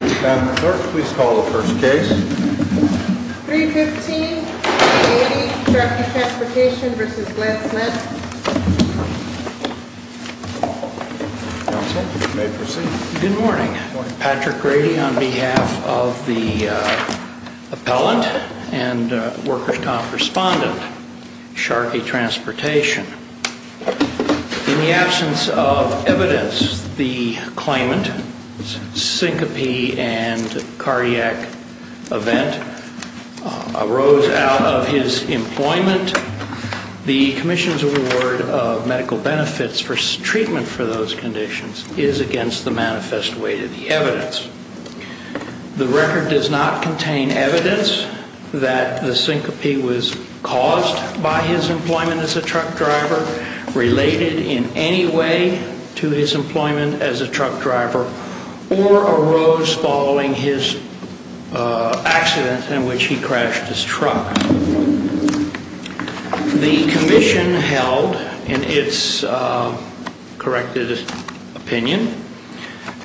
Madam Clerk, please call the first case. 315 Grady, Sharkey Transportation v. Glenn Smith Counsel, you may proceed. Good morning. Patrick Grady on behalf of the appellant and workers' comp respondent, Sharkey Transportation. In the absence of evidence, the claimant's syncope and cardiac event arose out of his employment. The commission's award of medical benefits for treatment for those conditions is against the manifest weight of the evidence. The record does not contain evidence that the syncope was caused by his employment as a truck driver, related in any way to his employment as a truck driver, or arose following his accident in which he crashed his truck. The commission held, in its corrected opinion,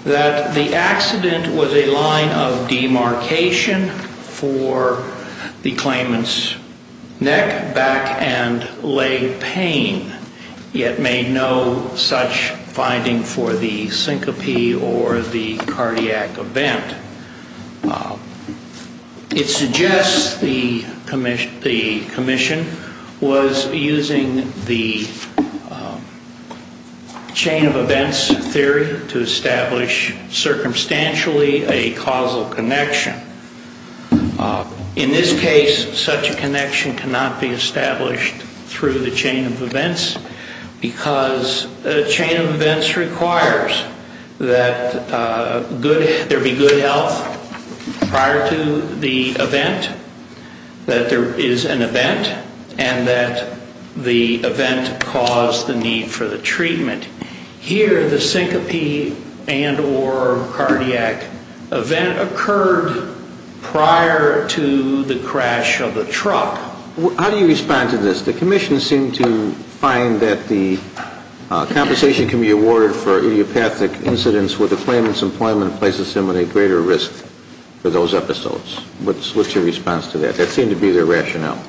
that the accident was a line of demarcation for the claimant's neck, back, and leg pain, yet made no such finding for the syncope or the cardiac event. It suggests the commission was using the chain of events theory to establish circumstantially a causal connection. In this case, such a connection cannot be established through the chain of events, because a chain of events requires that there be good health prior to the event, that there is an event, and that the event caused the need for the treatment. Here, the syncope and or cardiac event occurred prior to the crash of the truck. Now, how do you respond to this? The commission seemed to find that the compensation can be awarded for idiopathic incidents where the claimant's employment places him at a greater risk for those episodes. What's your response to that? That seemed to be their rationale.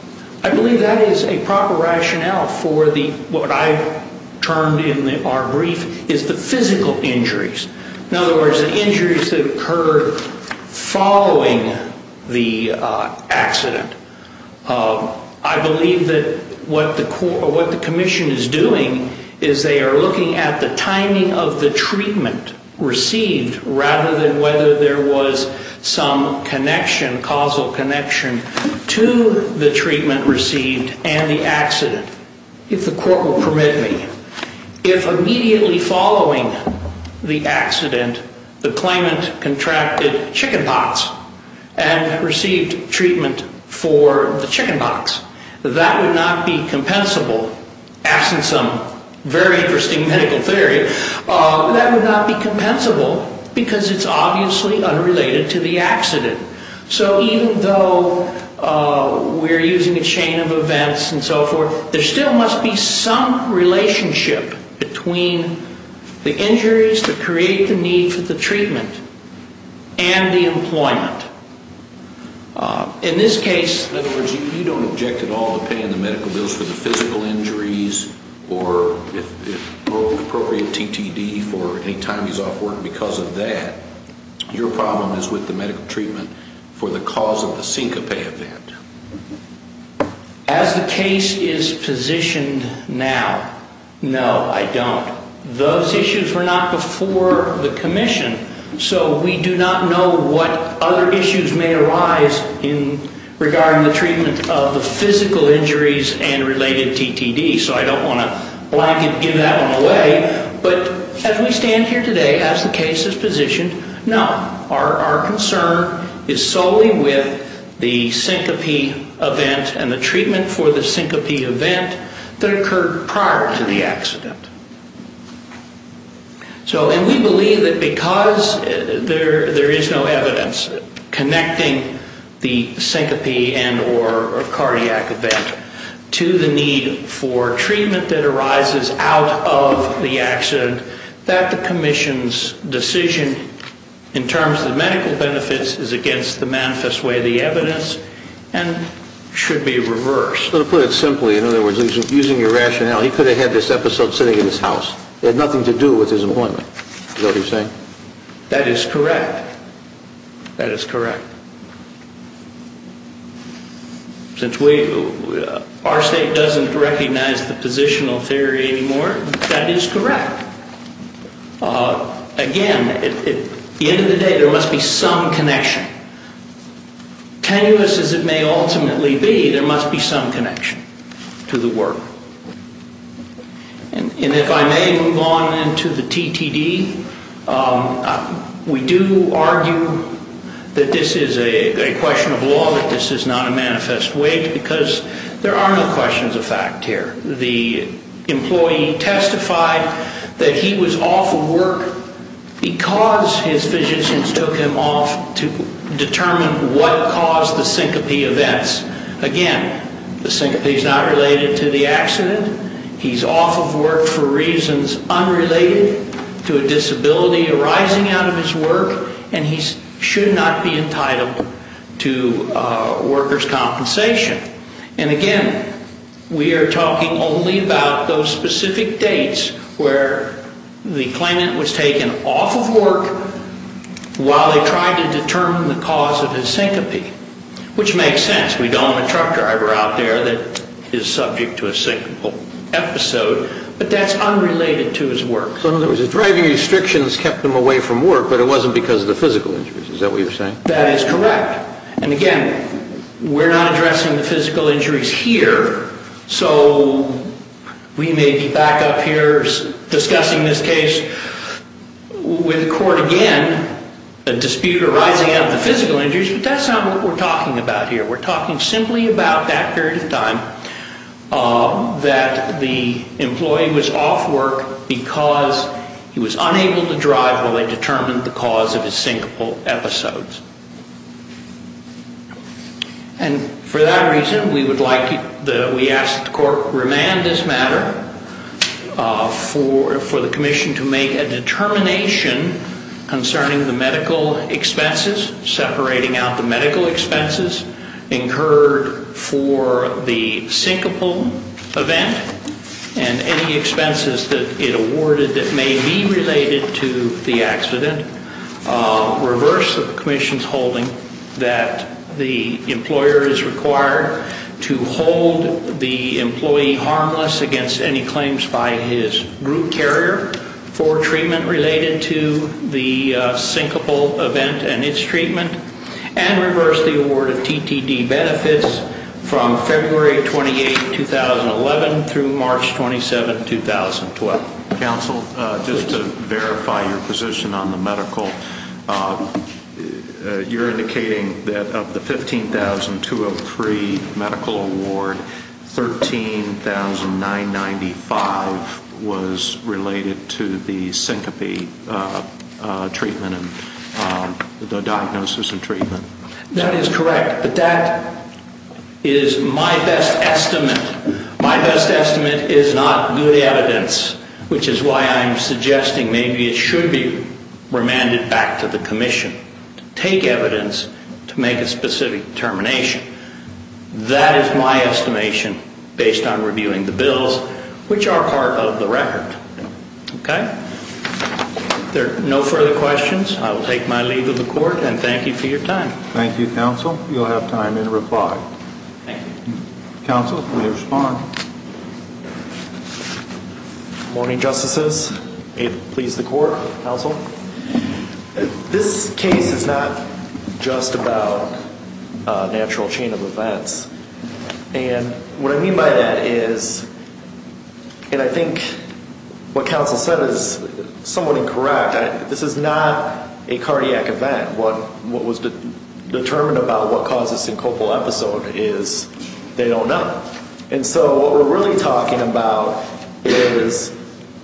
I believe that is a proper rationale for what I termed in our brief is the physical injuries. In other words, the injuries that occurred following the accident. I believe that what the commission is doing is they are looking at the timing of the treatment received rather than whether there was some causal connection to the treatment received and the accident, if the court will permit me. If immediately following the accident, the claimant contracted chickenpox and received treatment for the chickenpox, that would not be compensable, absent some very interesting medical theory, that would not be compensable because it's obviously unrelated to the accident. So even though we're using a chain of events and so forth, there still must be some relationship between the injuries that create the need for the treatment and the employment. In this case... In other words, you don't object at all to paying the medical bills for the physical injuries or appropriate TTD for any time he's off work because of that. Your problem is with the medical treatment for the cause of the syncope event. As the case is positioned now, no, I don't. Those issues were not before the commission, so we do not know what other issues may arise in regarding the treatment of the physical injuries and related TTD, so I don't want to blanket give that one away. But as we stand here today, as the case is positioned, no. Our concern is solely with the syncope event and the treatment for the syncope event that occurred prior to the accident. And we believe that because there is no evidence connecting the syncope and or cardiac event to the need for treatment that arises out of the accident, that the commission's decision in terms of the medical benefits is against the manifest way of the evidence and should be reversed. So to put it simply, in other words, using your rationale, he could have had this episode sitting in his house. It had nothing to do with his employment. Is that what you're saying? That is correct. That is correct. Since our state doesn't recognize the positional theory anymore, that is correct. Again, at the end of the day, there must be some connection. Tenuous as it may ultimately be, there must be some connection to the work. And if I may move on into the TTD, we do argue that this is a question of law, that this is not a manifest way because there are no questions of fact here. The employee testified that he was off of work because his physicians took him off to determine what caused the syncope events. Again, the syncope is not related to the accident. He's off of work for reasons unrelated to a disability arising out of his work, and he should not be entitled to workers' compensation. And again, we are talking only about those specific dates where the claimant was taken off of work while they tried to determine the cause of his syncope, which makes sense. We don't have a truck driver out there that is subject to a syncope episode, but that's unrelated to his work. So in other words, the driving restrictions kept him away from work, but it wasn't because of the physical injuries. Is that what you're saying? That is correct. And again, we're not addressing the physical injuries here, so we may be back up here discussing this case with the court again, a dispute arising out of the physical injuries, but that's not what we're talking about here. We're talking simply about that period of time that the employee was off work because he was unable to drive while they determined the cause of his syncope episodes. And for that reason, we ask that the court remand this matter for the commission to make a determination concerning the medical expenses, separating out the medical expenses incurred for the syncope event and any expenses that it awarded that may be related to the accident, reverse the commission's holding that the employer is required to hold the employee harmless against any claims by his group carrier for treatment related to the syncope event and its treatment, and reverse the award of TTD benefits from February 28, 2011 through March 27, 2012. Counsel, just to verify your position on the medical, you're indicating that of the $15,203 medical award, $13,995 was related to the syncope treatment and the diagnosis and treatment. That is correct, but that is my best estimate. My best estimate is not good evidence, which is why I'm suggesting maybe it should be remanded back to the commission to take evidence to make a specific determination. That is my estimation based on reviewing the bills, which are part of the record. Okay? There are no further questions. I will take my leave of the court, and thank you for your time. Thank you, Counsel. You'll have time in reply. Thank you. Counsel, will you respond? Good morning, Justices. May it please the Court, Counsel. This case is not just about a natural chain of events. And what I mean by that is, and I think what Counsel said is somewhat incorrect, this is not a cardiac event. What was determined about what caused the syncopal episode is they don't know. And so what we're really talking about is,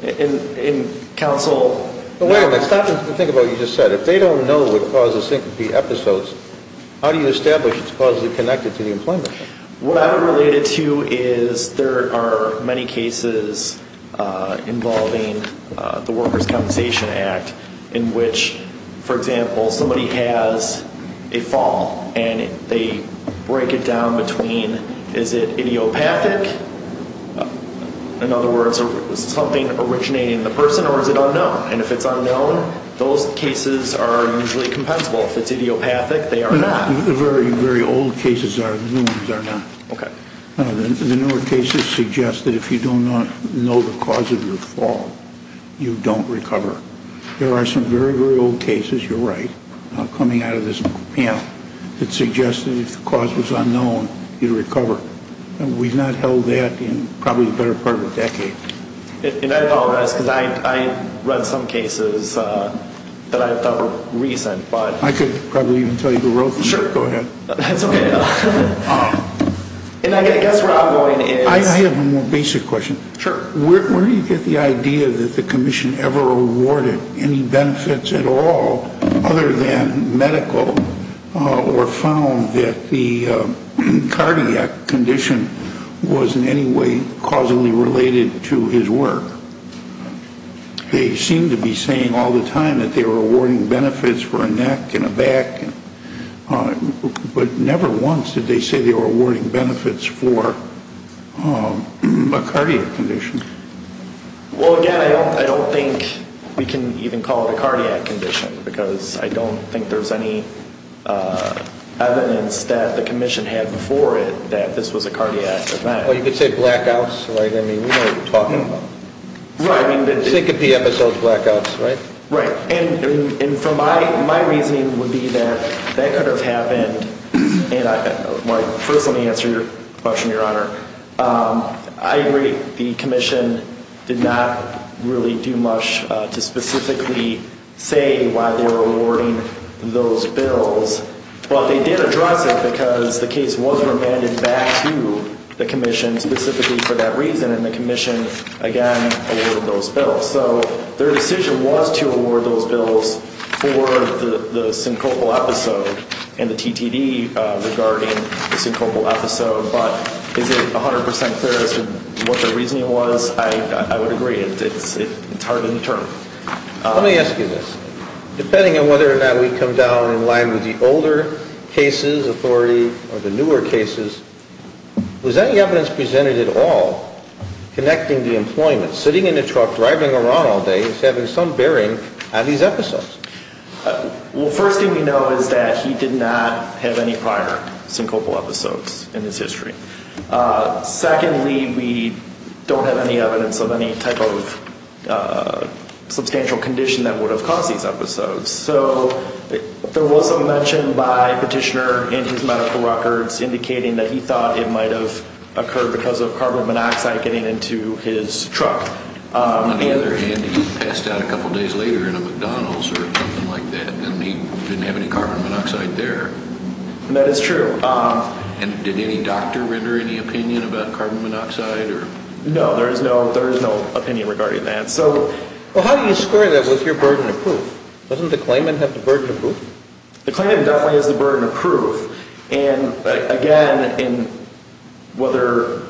and Counsel. Wait a minute. Stop and think about what you just said. If they don't know what caused the syncope episodes, how do you establish it's causally connected to the employment? What I would relate it to is there are many cases involving the Workers' Compensation Act in which, for example, somebody has a fall and they break it down between is it idiopathic, in other words, something originating in the person, or is it unknown? And if it's unknown, those cases are usually compensable. If it's idiopathic, they are not. The very, very old cases are not. Okay. The newer cases suggest that if you don't know the cause of your fall, you don't recover. There are some very, very old cases, you're right, coming out of this panel, that suggested if the cause was unknown, you'd recover. We've not held that in probably the better part of a decade. And I apologize because I read some cases that I thought were recent, but. I could probably even tell you who wrote them. Sure. Go ahead. That's okay. And I guess where I'm going is. I have a more basic question. Sure. Where do you get the idea that the commission ever awarded any benefits at all other than medical or found that the cardiac condition was in any way causally related to his work? They seem to be saying all the time that they were awarding benefits for a neck and a back. But never once did they say they were awarding benefits for a cardiac condition. Well, again, I don't think we can even call it a cardiac condition, because I don't think there's any evidence that the commission had before it that this was a cardiac event. Well, you could say blackouts, right? I mean, we know what you're talking about. Right. Syncope episodes, blackouts, right? Right. And my reasoning would be that that could have happened. First, let me answer your question, Your Honor. I agree the commission did not really do much to specifically say why they were awarding those bills. Well, they did address it because the case was remanded back to the commission specifically for that reason, and the commission, again, awarded those bills. So their decision was to award those bills for the syncopal episode and the TTD regarding the syncopal episode. But is it 100% clear as to what their reasoning was? I would agree. It's hard to determine. Let me ask you this. Depending on whether or not we come down in line with the older cases, authority, or the newer cases, was any evidence presented at all connecting the employment, sitting in a truck, driving around all day, having some bearing on these episodes? Well, first thing we know is that he did not have any prior syncopal episodes in his history. Secondly, we don't have any evidence of any type of substantial condition that would have caused these episodes. So there was some mention by a petitioner in his medical records indicating that he thought it might have occurred because of carbon monoxide getting into his truck. On the other hand, he passed out a couple days later in a McDonald's or something like that, and he didn't have any carbon monoxide there. That is true. And did any doctor render any opinion about carbon monoxide? No, there is no opinion regarding that. Well, how do you square that with your burden of proof? Doesn't the claimant have the burden of proof? The claimant definitely has the burden of proof. And again, whether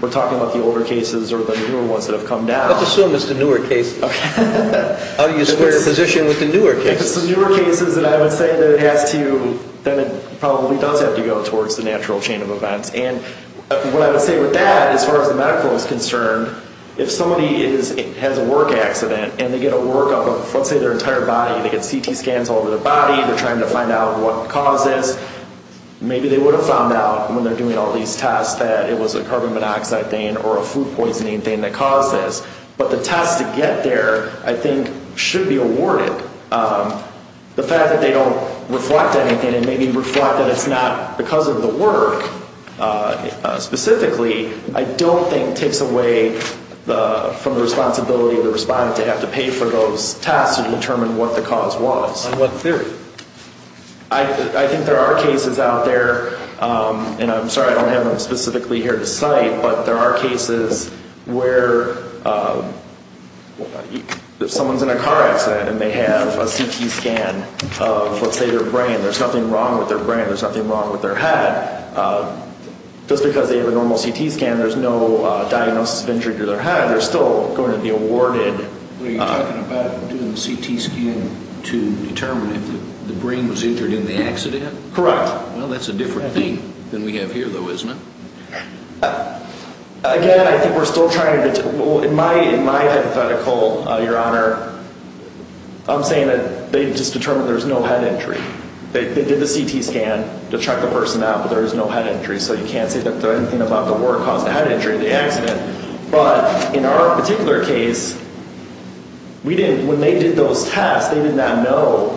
we're talking about the older cases or the newer ones that have come down... Let's assume it's the newer cases. How do you square your position with the newer cases? If it's the newer cases, then I would say that it probably does have to go towards the natural chain of events. And what I would say with that, as far as the medical is concerned, if somebody has a work accident and they get a workup of, let's say, their entire body, they get CT scans all over their body, they're trying to find out what caused this, maybe they would have found out when they're doing all these tests that it was a carbon monoxide thing or a food poisoning thing that caused this. But the tests to get there, I think, should be awarded. The fact that they don't reflect anything and maybe reflect that it's not because of the work specifically, I don't think takes away from the responsibility of the respondent to have to pay for those tests to determine what the cause was. On what theory? I think there are cases out there, and I'm sorry I don't have them specifically here to cite, but there are cases where if someone's in a car accident and they have a CT scan of, let's say, their brain, there's nothing wrong with their brain, there's nothing wrong with their head. Just because they have a normal CT scan, there's no diagnosis of injury to their head. They're still going to be awarded. Are you talking about doing the CT scan to determine if the brain was injured in the accident? Correct. Well, that's a different thing than we have here, though, isn't it? Again, I think we're still trying to determine. In my hypothetical, Your Honor, I'm saying that they've just determined there's no head injury. They did the CT scan to check the person out, but there was no head injury, so you can't say that anything about the word caused the head injury in the accident. But in our particular case, when they did those tests, they did not know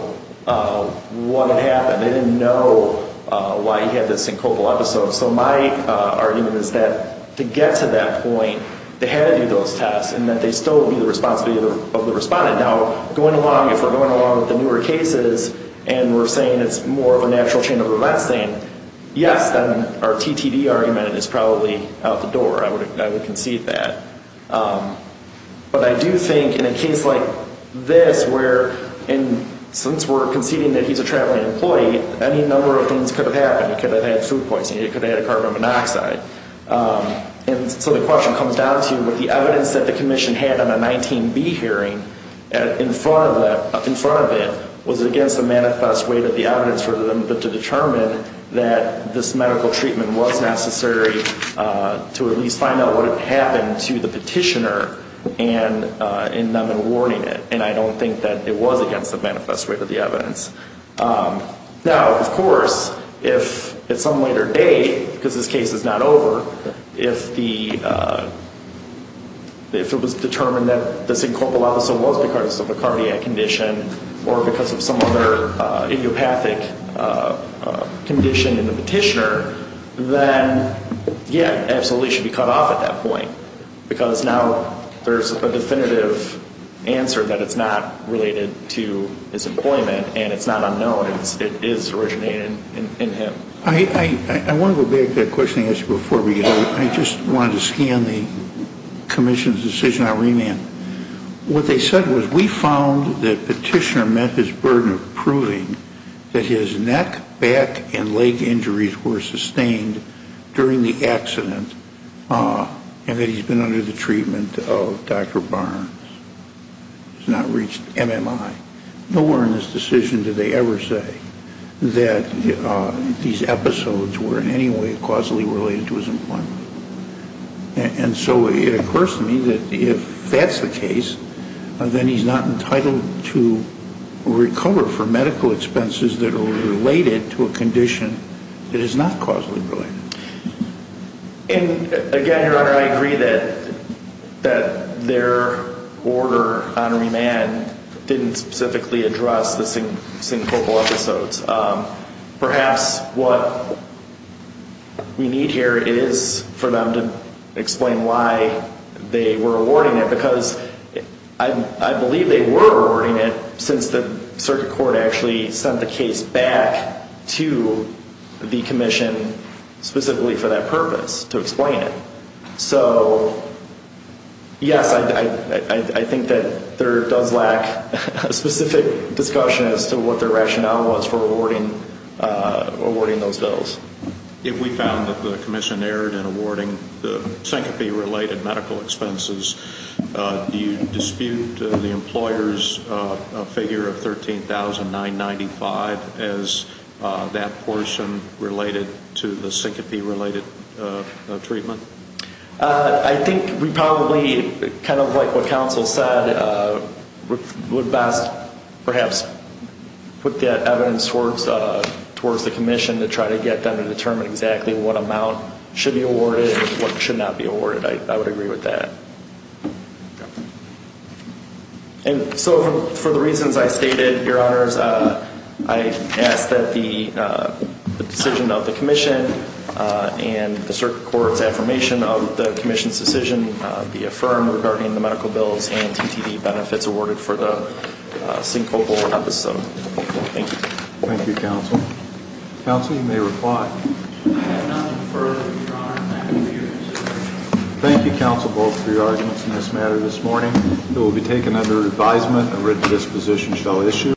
what had happened. They didn't know why he had this syncopal episode. So my argument is that to get to that point, they had to do those tests, and that they still would be the responsibility of the respondent. Now, going along, if we're going along with the newer cases and we're saying it's more of a natural chain of events thing, yes, then our TTD argument is probably out the door. I would concede that. But I do think in a case like this where, since we're conceding that he's a traveling employee, any number of things could have happened. It could have had food poisoning. It could have had a carbon monoxide. And so the question comes down to, would the evidence that the commission had on a 19B hearing in front of it, was it against the manifest weight of the evidence for them to determine that this medical treatment was necessary to at least find out what had happened to the petitioner in them in warning it? And I don't think that it was against the manifest weight of the evidence. Now, of course, if at some later date, because this case is not over, if it was determined that the syncope also was because of a cardiac condition or because of some other idiopathic condition in the petitioner, then, yeah, absolutely, it should be cut off at that point. Because now there's a definitive answer that it's not related to his employment and it's not unknown. It is originating in him. I want to go back to that question I asked you before we get out. I just wanted to scan the commission's decision on remand. What they said was, we found that petitioner met his burden of proving that his neck, back, and leg injuries were sustained during the accident and that he's been under the treatment of Dr. Barnes. He's not reached MMI. Nowhere in this decision did they ever say that these episodes were in any way causally related to his employment. And so it occurs to me that if that's the case, then he's not entitled to recover for medical expenses that are related to a condition that is not causally related. And again, Your Honor, I agree that their order on remand didn't specifically address the syncopal episodes. Perhaps what we need here is for them to explain why they were awarding it, because I believe they were awarding it since the circuit court actually sent the case back to the commission specifically for that purpose, to explain it. So, yes, I think that there does lack a specific discussion as to what their rationale was for awarding those bills. If we found that the commission erred in awarding the syncope-related medical expenses, do you dispute the employer's figure of $13,995 as that portion related to the syncope-related treatment? I think we probably, kind of like what counsel said, would best perhaps put that evidence towards the commission to try to get them to determine exactly what amount should be awarded and what should not be awarded. I would agree with that. And so, for the reasons I stated, Your Honors, I ask that the decision of the commission and the circuit court's affirmation of the commission's decision be affirmed regarding the medical bills and TTD benefits awarded for the syncopal episode. Thank you. Thank you, counsel. Counsel, you may reply. I have nothing further, Your Honor, to add to your decision. Thank you, counsel, both for your arguments in this matter this morning. It will be taken under advisement and written disposition shall issue.